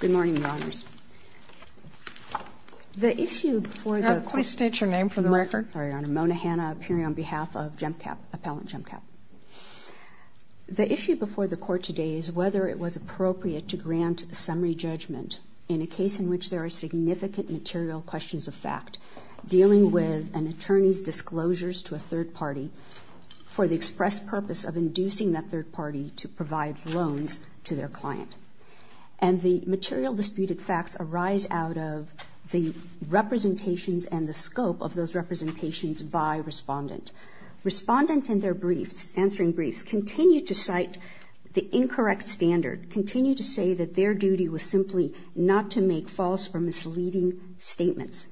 Good morning, Your Honors. The issue before the court today is whether it was appropriate to grant a summary judgment in a case in which there are significant material questions of fact dealing with an attorney's disclosures to a third party for the express purpose of inducing that third party to provide loans to their client. And the material disputed facts arise out of the representations and the scope of those representations by respondent. Respondent in their briefs, answering briefs, continue to cite the incorrect standard, continue to say that their duty was simply not to make false or misleading statements.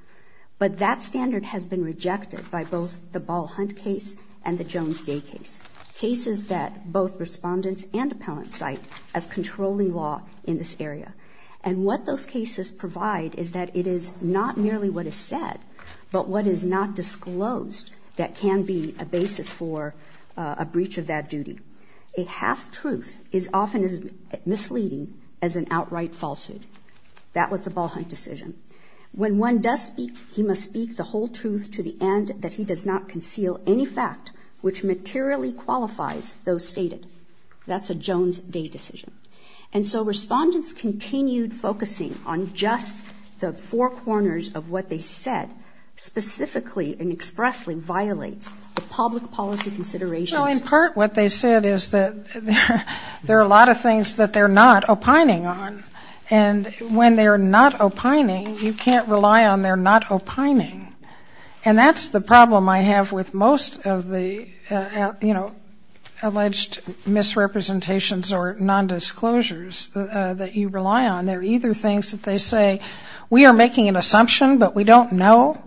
But that standard has been rejected by both the Ball Hunt case and the Jones Day case, cases that both respondents and appellants cite as controlling law in this area. And what those cases provide is that it is not merely what is said, but what is not disclosed that can be a basis for a breach of that duty. A half-truth is often as misleading as an outright falsehood. That was the Ball Hunt decision. When one does speak, he must speak the whole truth to the end that he does not conceal any fact which materially qualifies those stated. That's a Jones Day decision. And so respondents continued focusing on just the four corners of what they said specifically and expressly violates the public policy considerations. Well, in part what they said is that there are a lot of things that they're not opining on. And when they're not opining, you can't rely on they're not opining. And that's the problem I have with most of the, you know, alleged misrepresentations or nondisclosures that you rely on. They're either things that they say, we are making an assumption, but we don't know,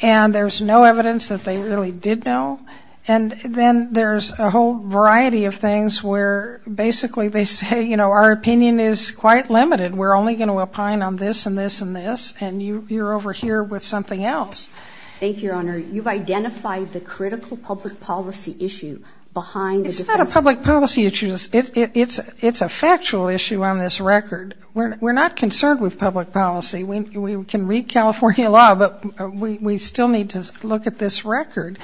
and there's no evidence that they really did know. And then there's a whole variety of things where basically they say, you know, our opinion is quite limited. We're only going to opine on this and this and this, and you're over here with something else. Thank you, Your Honor. You've identified the critical public policy issue behind the defense counsel. It's not a public policy issue. It's a factual issue on this record. We're not concerned with public policy. We can read California law, but we still need to look at this record.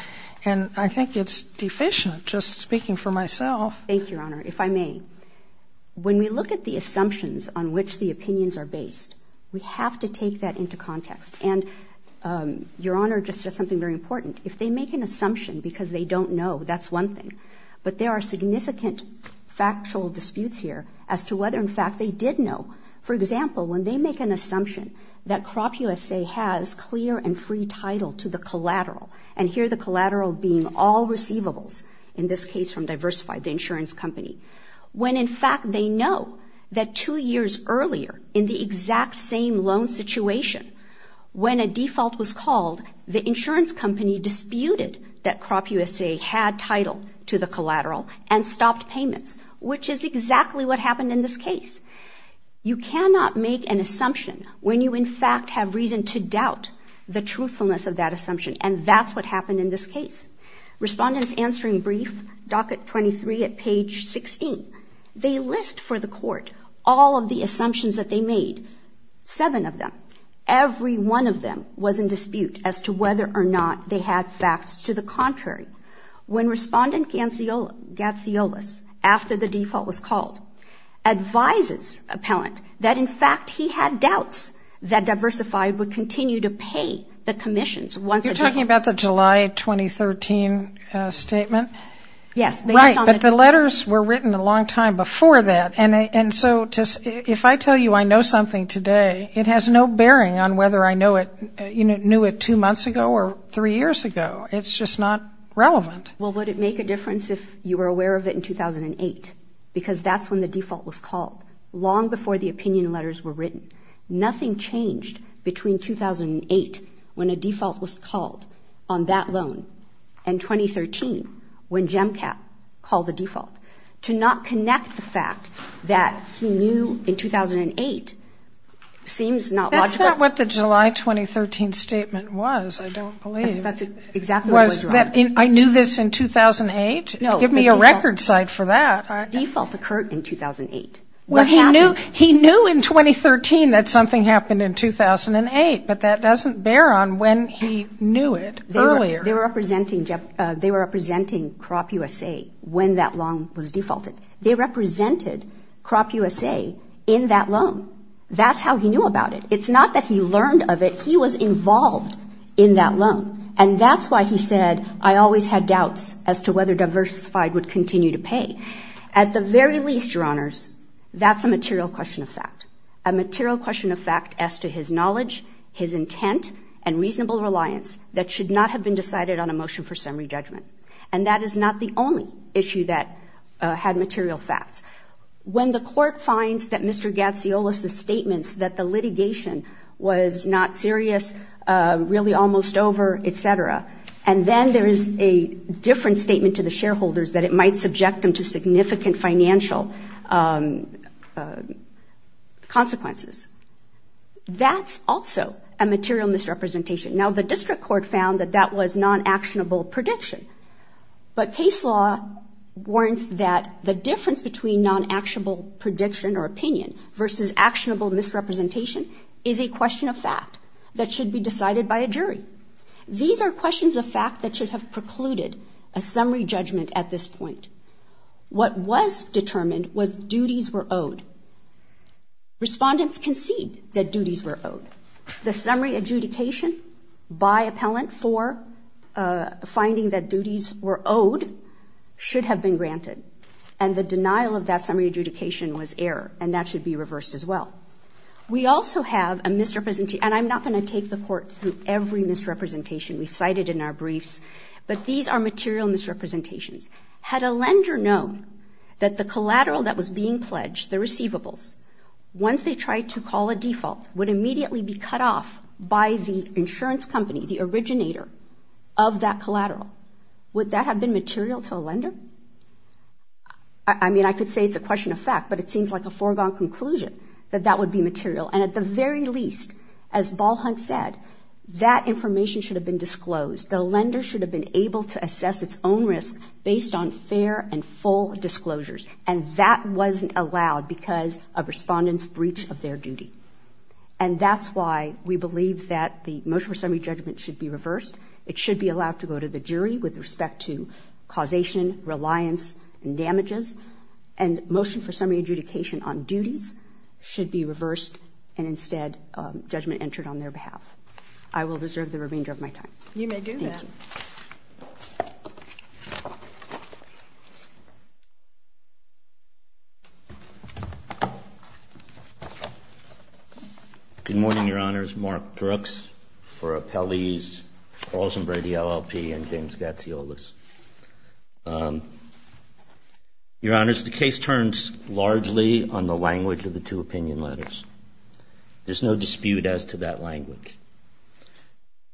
And I think it's deficient, just speaking for myself. Thank you, Your Honor. If I may, when we look at the assumptions on which the opinions are based, we have to take that into context. And Your Honor just said something very important. If they make an assumption because they don't know, that's one thing. But there are significant factual disputes here as to whether, in fact, they did know. For example, when they make an assumption that CropUSA has clear and free title to the collateral, and here the collateral being all receivables, in this case from Diversify, the insurance company, when, in fact, they know that two years earlier in the exact same loan situation, when a default was called, the insurance company disputed that CropUSA had title to the collateral and stopped payments, which is exactly what happened in this case. You cannot make an assumption when you, in fact, have reason to doubt the truthfulness of that assumption, and that's what happened in this case. Respondents answering brief, docket 23 at page 16, they list for the court all of the assumptions that they made, seven of them. Every one of them was in dispute as to whether or not they had facts to the contrary. When Respondent Gatziolas, after the default was called, advises appellant that, in fact, he had doubts that Diversify would continue to pay the commissions once again. You're talking about the July 2013 statement? Yes. Right. But the letters were written a long time before that. And so if I tell you I know something today, it has no bearing on whether I knew it two months ago or three years ago. It's just not relevant. Well, would it make a difference if you were aware of it in 2008? Because that's when the default was called, long before the opinion letters were written. Nothing changed between 2008, when a default was called on that loan, and 2013, when GEMCAP called the default. To not connect the fact that he knew in 2008 seems not logical. That's not what the July 2013 statement was, I don't believe. That's exactly what was wrong. I knew this in 2008? No. Give me a record site for that. The default occurred in 2008. What happened? Well, he knew in 2013 that something happened in 2008, but that doesn't bear on when he knew it earlier. They were representing CropUSA when that loan was defaulted. They represented CropUSA in that loan. That's how he knew about it. It's not that he learned of it. But he was involved in that loan, and that's why he said, I always had doubts as to whether diversified would continue to pay. At the very least, Your Honors, that's a material question of fact, a material question of fact as to his knowledge, his intent, and reasonable reliance that should not have been decided on a motion for summary judgment. And that is not the only issue that had material facts. When the court finds that Mr. Gatziolas' statements that the litigation was not serious, really almost over, et cetera, and then there is a different statement to the shareholders that it might subject them to significant financial consequences, that's also a material misrepresentation. Now, the district court found that that was non-actionable prediction. But case law warrants that the difference between non-actionable prediction or opinion versus actionable misrepresentation is a question of fact that should be decided by a jury. These are questions of fact that should have precluded a summary judgment at this point. What was determined was duties were owed. The summary adjudication by appellant for finding that duties were owed should have been granted. And the denial of that summary adjudication was error, and that should be reversed as well. We also have a misrepresentation, and I'm not going to take the court through every misrepresentation we've cited in our briefs, but these are material misrepresentations. Had a lender known that the collateral that was being pledged, the receivables, once they tried to call a default, would immediately be cut off by the insurance company, the originator of that collateral, would that have been material to a lender? I mean, I could say it's a question of fact, but it seems like a foregone conclusion that that would be material. And at the very least, as Ball Hunt said, that information should have been disclosed. The lender should have been able to assess its own risk based on fair and full disclosures. And that wasn't allowed because of respondents' breach of their duty. And that's why we believe that the motion for summary judgment should be reversed. It should be allowed to go to the jury with respect to causation, reliance, and damages. And motion for summary adjudication on duties should be reversed, and instead judgment entered on their behalf. I will reserve the remainder of my time. You may do that. Thank you. Good morning, Your Honors. Mark Brooks for Appellees Alzheimer, DLLP, and James Gatziolas. Your Honors, the case turns largely on the language of the two opinion letters. There's no dispute as to that language.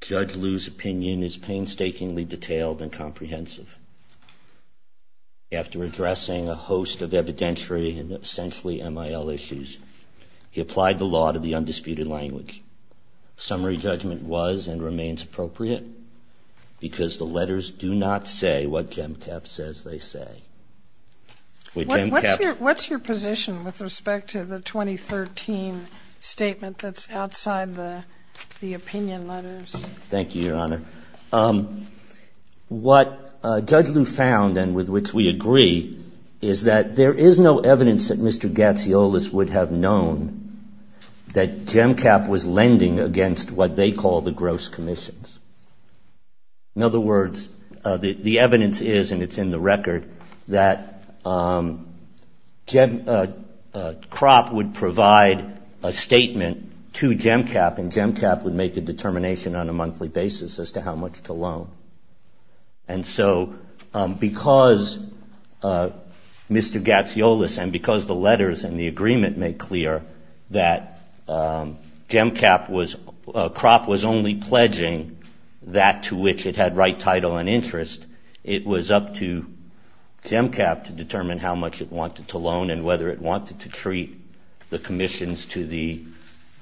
Judge Liu's opinion is painstakingly detailed and comprehensive. After addressing a host of evidentiary and essentially MIL issues, he applied the law to the undisputed language. Summary judgment was and remains appropriate because the letters do not say what Jem Tapp says they say. What's your position with respect to the 2013 statement that's outside the opinion letters? Thank you, Your Honor. What Judge Liu found, and with which we agree, is that there is no evidence that Mr. Gatziolas would have known that Jem Tapp was lending against what they call the gross commissions. In other words, the evidence is, and it's in the record, that Kropp would provide a statement to Jem Tapp, and Jem Tapp would make a determination on a monthly basis as to how much to loan. And so because Mr. Gatziolas and because the letters and the agreement make clear that Jem Tapp was, Kropp was only pledging that to which it had right title and interest, it was up to Jem Tapp to determine how much it wanted to loan and whether it wanted to treat the commissions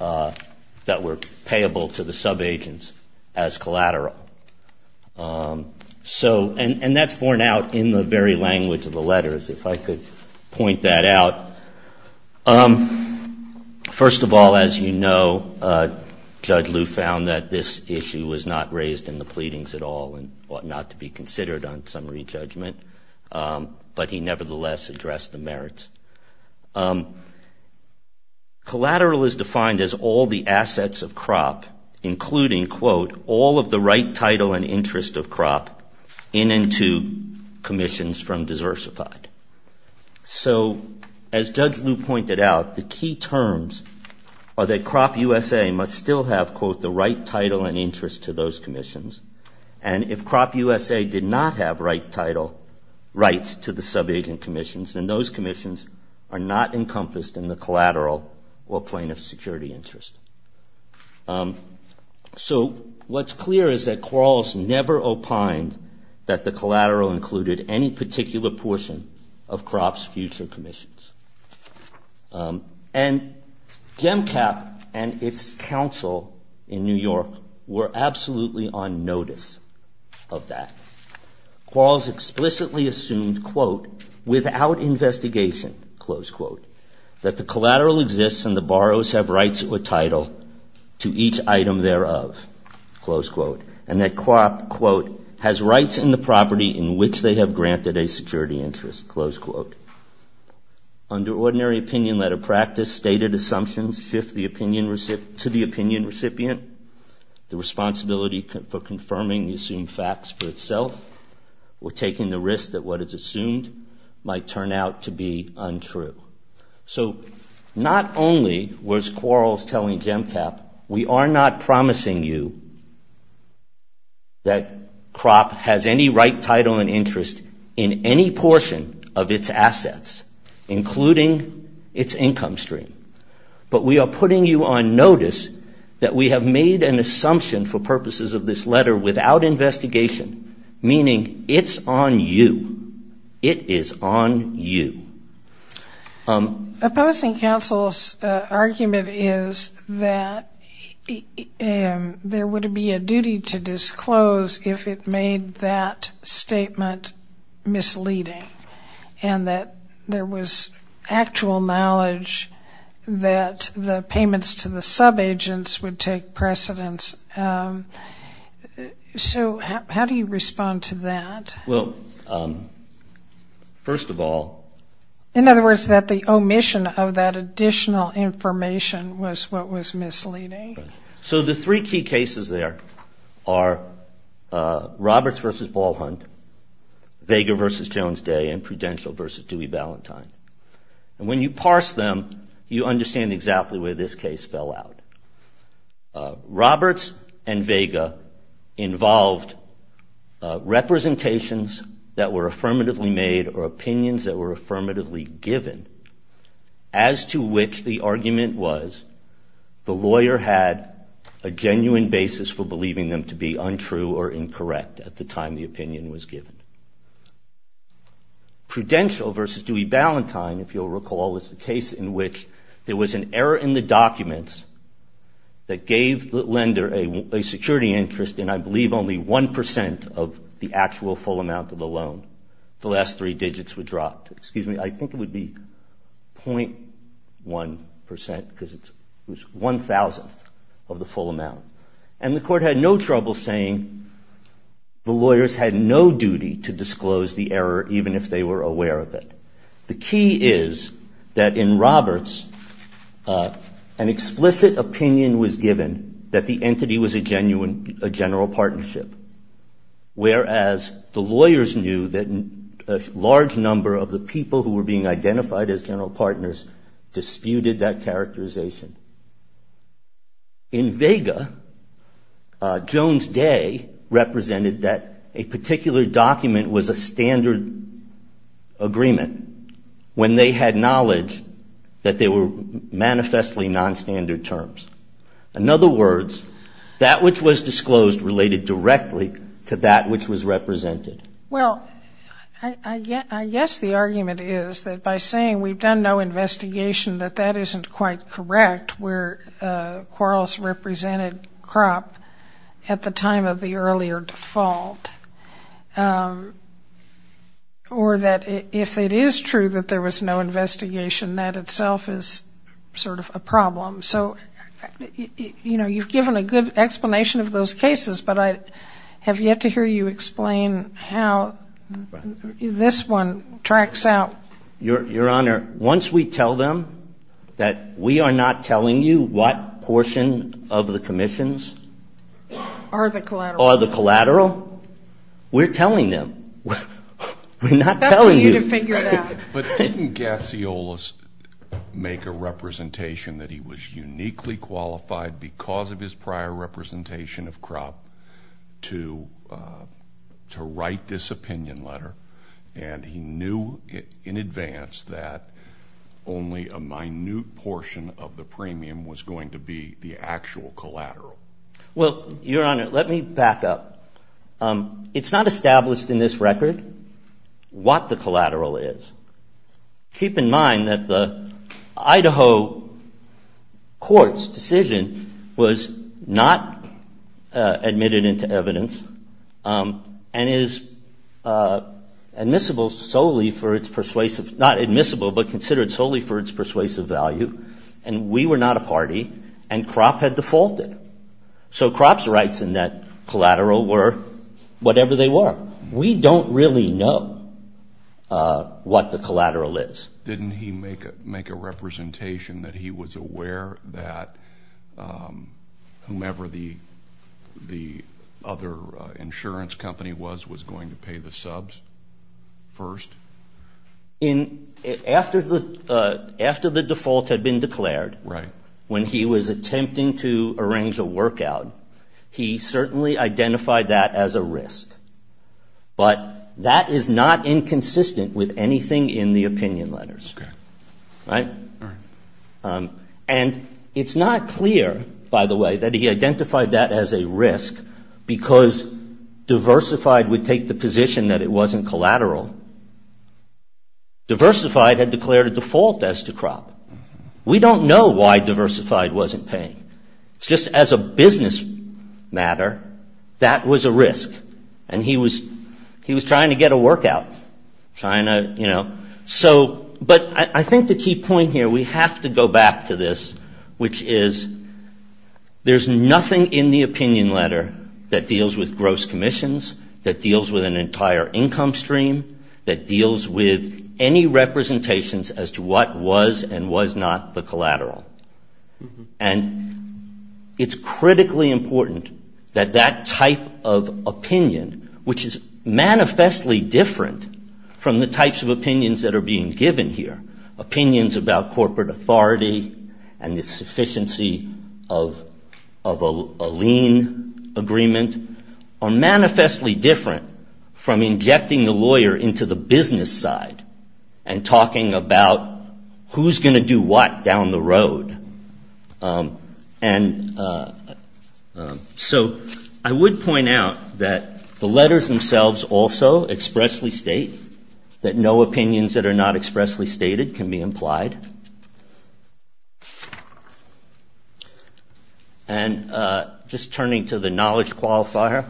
that were payable to the subagents as collateral. And that's borne out in the very language of the letters, if I could point that out. First of all, as you know, Judge Liu found that this issue was not raised in the pleadings at all and ought not to be considered on summary judgment, but he nevertheless addressed the merits. Collateral is defined as all the assets of Kropp, including, quote, all of the right title and interest of Kropp in and to commissions from diversified. So as Judge Liu pointed out, the key terms are that Kropp USA must still have, quote, the right title and interest to those commissions. And if Kropp USA did not have rights to the subagent commissions, then those commissions are not encompassed in the collateral or plaintiff's security interest. So what's clear is that Quarles never opined that the collateral included any particular portion of Kropp's future commissions. And GEMCAP and its counsel in New York were absolutely on notice of that. Quarles explicitly assumed, quote, without investigation, close quote, that the collateral exists and the borrowers have rights or title to each item thereof, close quote, and that Kropp, quote, has rights in the property in which they have granted a security interest, close quote. Under ordinary opinion letter practice, stated assumptions to the opinion recipient, the responsibility for confirming the assumed facts for itself, we're taking the risk that what is assumed might turn out to be untrue. So not only was Quarles telling GEMCAP, we are not promising you that Kropp has any right title and interest in any portion of its assets, including its income stream, but we are putting you on notice that we have made an assumption for purposes of this letter without investigation, meaning it's on you. It is on you. Opposing counsel's argument is that there would be a duty to disclose if it made that statement misleading and that there was actual knowledge that the payments to the subagents would take precedence. So how do you respond to that? Well, first of all. In other words, that the omission of that additional information was what was misleading. So the three key cases there are Roberts v. Ball Hunt, Vega v. Jones Day, and Prudential v. Dewey Ballantyne. And when you parse them, you understand exactly where this case fell out. Roberts and Vega involved representations that were affirmatively made or opinions that were affirmatively given, as to which the argument was the lawyer had a genuine basis for believing them to be untrue or incorrect at the time the opinion was given. Prudential v. Dewey Ballantyne, if you'll recall, is the case in which there was an error in the documents that gave the lender a security interest in I believe only 1% of the actual full amount of the loan. The last three digits were dropped. Excuse me. I think it would be 0.1% because it was 1,000th of the full amount. And the court had no trouble saying the lawyers had no duty to disclose the error even if they were aware of it. The key is that in Roberts, an explicit opinion was given that the entity was a general partnership, whereas the lawyers knew that a large number of the people who were being identified as general partners disputed that characterization. In Vega, Jones Day represented that a particular document was a standard agreement when they had knowledge that they were manifestly nonstandard terms. In other words, that which was disclosed related directly to that which was represented. Well, I guess the argument is that by saying we've done no investigation, that that isn't quite correct where Quarles represented crop at the time of the earlier default. Or that if it is true that there was no investigation, that itself is sort of a problem. So, you know, you've given a good explanation of those cases, but I have yet to hear you explain how this one tracks out. Your Honor, once we tell them that we are not telling you what portion of the commissions are the collateral, we're telling them. We're not telling you. But didn't Gatziolas make a representation that he was uniquely qualified because of his prior representation of crop to write this opinion letter? And he knew in advance that only a minute portion of the premium was going to be the actual collateral. Well, Your Honor, let me back up. It's not established in this record what the collateral is. Keep in mind that the Idaho court's decision was not admitted into evidence and is admissible solely for its persuasive, not admissible, but considered solely for its persuasive value. And we were not a party, and crop had defaulted. So crop's rights in that collateral were whatever they were. We don't really know what the collateral is. Didn't he make a representation that he was aware that whomever the other insurance company was, was going to pay the subs first? After the default had been declared, when he was attempting to arrange a workout, he certainly identified that as a risk. But that is not inconsistent with anything in the opinion letters, right? And it's not clear, by the way, that he identified that as a risk because Diversified would take the position that it wasn't collateral. Diversified had declared a default as to crop. We don't know why Diversified wasn't paying. Just as a business matter, that was a risk. And he was trying to get a workout, trying to, you know. But I think the key point here, we have to go back to this, which is there's nothing in the opinion letter that deals with gross commissions, that deals with an entire income stream, that deals with any representations as to what was and was not the collateral. And it's critically important that that type of opinion, which is manifestly different from the types of opinions that are being given here, opinions about corporate authority and the sufficiency of a lien agreement, are manifestly different from injecting the lawyer into the business side and talking about who's going to do what down the road. So I would point out that the letters themselves also expressly state that no opinions that are not expressly stated can be implied. And just turning to the knowledge qualifier,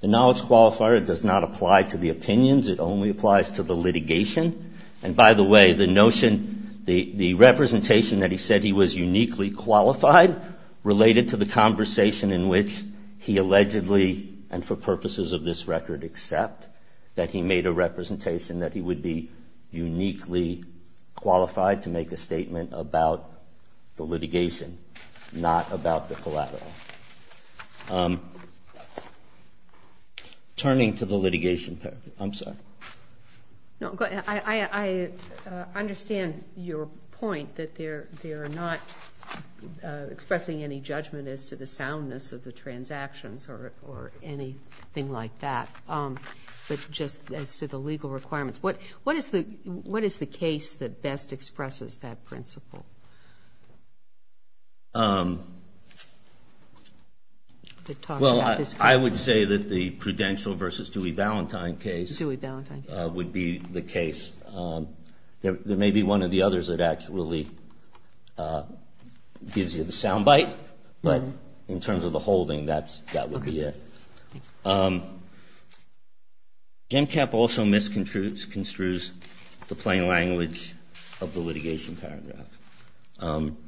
the knowledge qualifier does not apply to the opinions. It only applies to the litigation. And by the way, the notion, the representation that he said he was uniquely qualified related to the conversation in which he allegedly, and for purposes of this record, except that he made a representation that he would be uniquely qualified to make a statement about the litigation, not about the collateral. Turning to the litigation, I'm sorry. No, go ahead. I understand your point that they're not expressing any judgment as to the soundness of the transactions or anything like that, but just as to the legal requirements. What is the case that best expresses that principle? Well, I would say that the Prudential v. Dewey-Valentine case would be the case. There may be one of the others that actually gives you the sound bite, but in terms of the holding, that would be it. Gemcap also misconstrues the plain language of the litigation paragraph. And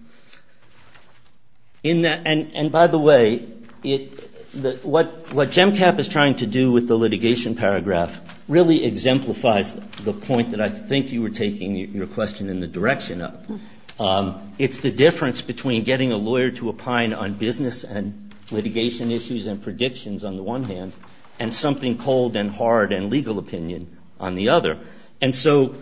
by the way, what Gemcap is trying to do with the litigation paragraph really exemplifies the point that I think you were taking your question in the direction of. It's the difference between getting a lawyer to opine on business and litigation issues and predictions on the one hand, and something cold and hard and legal opinion on the other. And so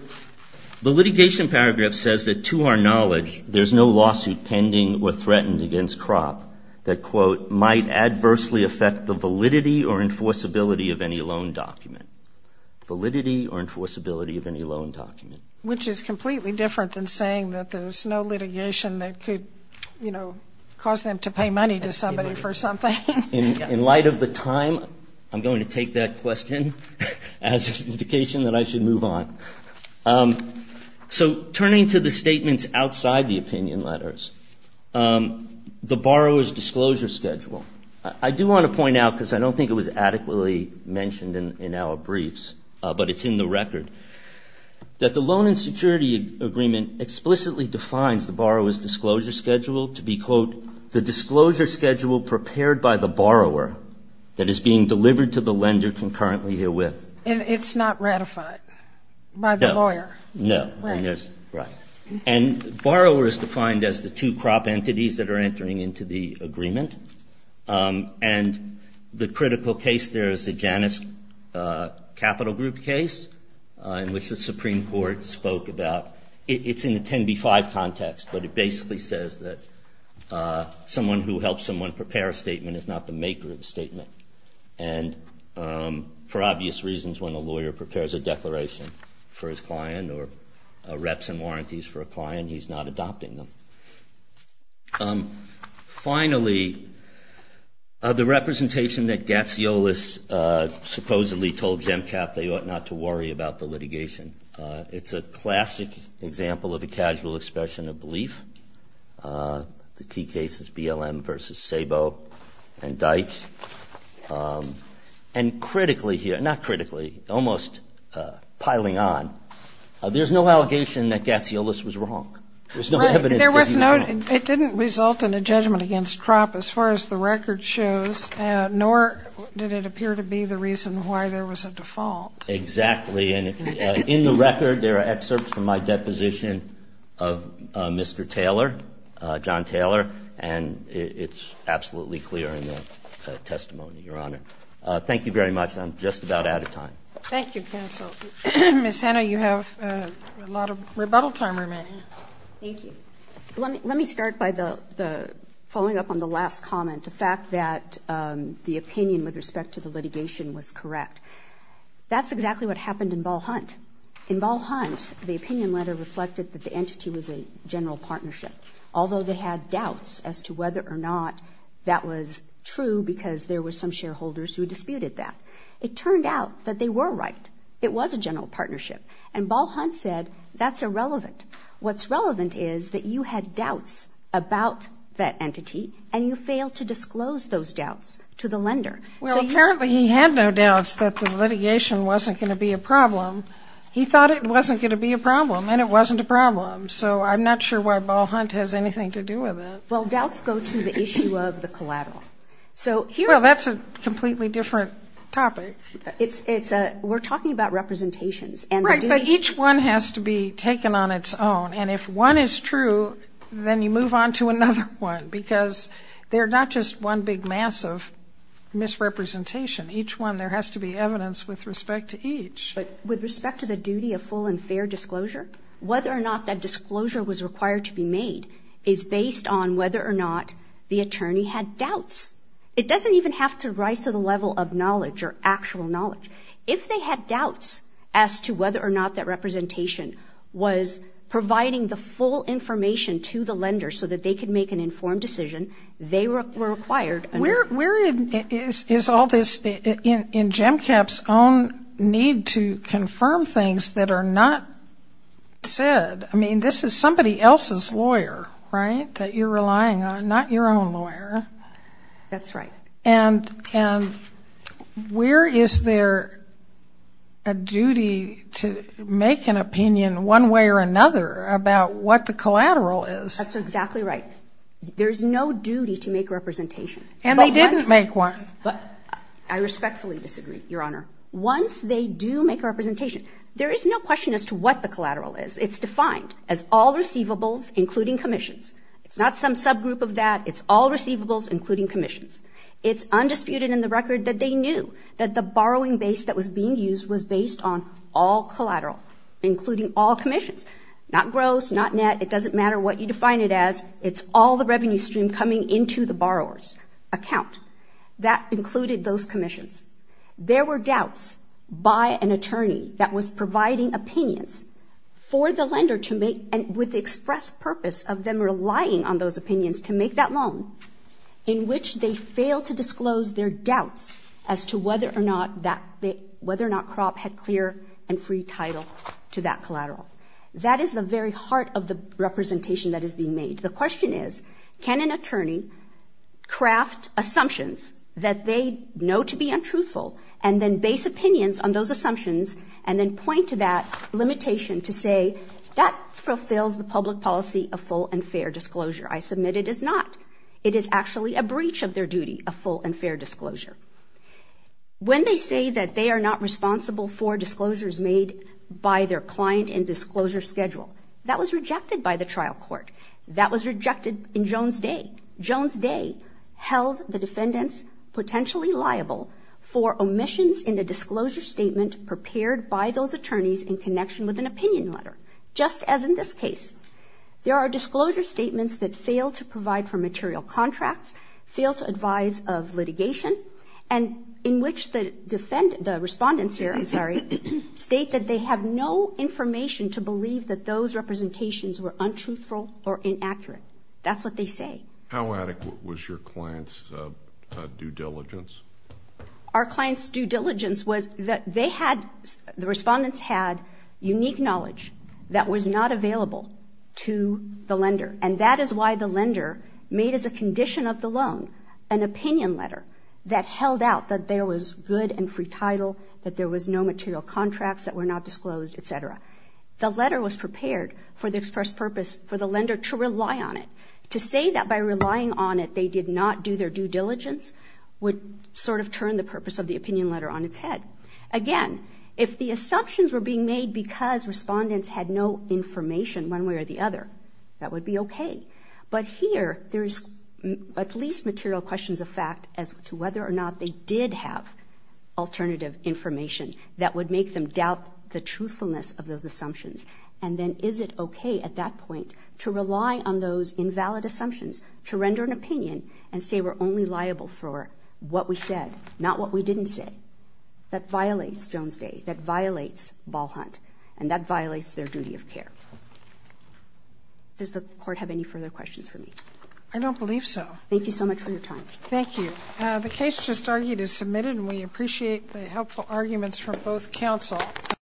the litigation paragraph says that, to our knowledge, there's no lawsuit pending or threatened against crop that, quote, might adversely affect the validity or enforceability of any loan document. Validity or enforceability of any loan document. Which is completely different than saying that there's no litigation that could, you know, cause them to pay money to somebody for something. In light of the time, I'm going to take that question as an indication that I should move on. So turning to the statements outside the opinion letters, the borrower's disclosure schedule. I do want to point out, because I don't think it was adequately mentioned in our briefs, but it's in the record, that the loan and security agreement explicitly defines the borrower's disclosure schedule to be, quote, the disclosure schedule prepared by the borrower that is being delivered to the lender concurrently herewith. And it's not ratified by the lawyer? No. Right. Right. And borrower is defined as the two crop entities that are entering into the agreement. And the critical case there is the Janus Capital Group case, in which the Supreme Court spoke about, it's in the 10b-5 context, but it basically says that someone who helps someone prepare a statement is not the maker of the statement. And for obvious reasons, when a lawyer prepares a declaration for his client, or reps and warranties for a client, he's not adopting them. Finally, the representation that Gatziolis supposedly told Gemcap they ought not to worry about the litigation. It's a classic example of a casual expression of belief. The key cases, BLM v. Sabo and Deitch. And critically here, not critically, almost piling on, there's no allegation that Gatziolis was wrong. There's no evidence that he was wrong. It didn't result in a judgment against crop as far as the record shows, nor did it appear to be the reason why there was a default. Exactly. And in the record, there are excerpts from my deposition of Mr. Taylor, John Taylor, and it's absolutely clear in the testimony, Your Honor. Thank you very much. I'm just about out of time. Thank you, counsel. Ms. Hanna, you have a lot of rebuttal time remaining. Thank you. Let me start by following up on the last comment, the fact that the opinion with respect to the litigation was correct. That's exactly what happened in Ball Hunt. In Ball Hunt, the opinion letter reflected that the entity was a general partnership, although they had doubts as to whether or not that was true because there were some shareholders who disputed that. It turned out that they were right. It was a general partnership. And Ball Hunt said that's irrelevant. What's relevant is that you had doubts about that entity, and you failed to disclose those doubts to the lender. Well, apparently he had no doubts that the litigation wasn't going to be a problem. He thought it wasn't going to be a problem, and it wasn't a problem. So I'm not sure why Ball Hunt has anything to do with it. Well, doubts go to the issue of the collateral. Well, that's a completely different topic. We're talking about representations. Right, but each one has to be taken on its own. And if one is true, then you move on to another one because they're not just one big mass of misrepresentation. Each one, there has to be evidence with respect to each. With respect to the duty of full and fair disclosure, whether or not that disclosure was required to be made is based on whether or not the attorney had doubts. It doesn't even have to rise to the level of knowledge or actual knowledge. If they had doubts as to whether or not that representation was providing the full information to the lender so that they could make an informed decision, they were required. Where is all this in GEMCAP's own need to confirm things that are not said? I mean, this is somebody else's lawyer, right, that you're relying on, not your own lawyer. That's right. And where is there a duty to make an opinion one way or another about what the collateral is? That's exactly right. There's no duty to make a representation. And they didn't make one. I respectfully disagree, Your Honor. Once they do make a representation, there is no question as to what the collateral is. It's defined as all receivables, including commissions. It's not some subgroup of that. It's all receivables, including commissions. It's undisputed in the record that they knew that the borrowing base that was being used was based on all collateral, including all commissions, not gross, not net. It doesn't matter what you define it as. It's all the revenue stream coming into the borrower's account. That included those commissions. There were doubts by an attorney that was providing opinions for the lender to make and with the express purpose of them relying on those opinions to make that loan, in which they failed to disclose their doubts as to whether or not crop had clear and free title to that collateral. That is the very heart of the representation that is being made. The question is, can an attorney craft assumptions that they know to be untruthful and then base opinions on those assumptions and then point to that limitation to say, that fulfills the public policy of full and fair disclosure. I submit it does not. It is actually a breach of their duty of full and fair disclosure. When they say that they are not responsible for disclosures made by their client in disclosure schedule, that was rejected by the trial court. That was rejected in Jones Day. Jones Day held the defendants potentially liable for omissions in a disclosure statement prepared by those attorneys in connection with an opinion letter, just as in this case. There are disclosure statements that fail to provide for material contracts, fail to advise of litigation, and in which the defendants, the respondents here, I'm sorry, state that they have no information to believe that those representations were untruthful or inaccurate. That's what they say. How adequate was your client's due diligence? Our client's due diligence was that they had, the respondents had, unique knowledge that was not available to the lender, and that is why the lender made as a condition of the loan an opinion letter that held out that there was good and free title, that there was no material contracts that were not disclosed, et cetera. The letter was prepared for the express purpose for the lender to rely on it. To say that by relying on it, they did not do their due diligence, would sort of turn the purpose of the opinion letter on its head. Again, if the assumptions were being made because respondents had no information one way or the other, that would be okay. But here, there's at least material questions of fact as to whether or not they did have alternative information that would make them doubt the truthfulness of those assumptions. And then is it okay at that point to rely on those invalid assumptions to render an opinion and say we're only liable for what we said, not what we didn't say? That violates Jones Day. That violates ball hunt. And that violates their duty of care. Does the Court have any further questions for me? I don't believe so. Thank you so much for your time. Thank you. The case just argued is submitted, and we appreciate the helpful arguments from both counsel.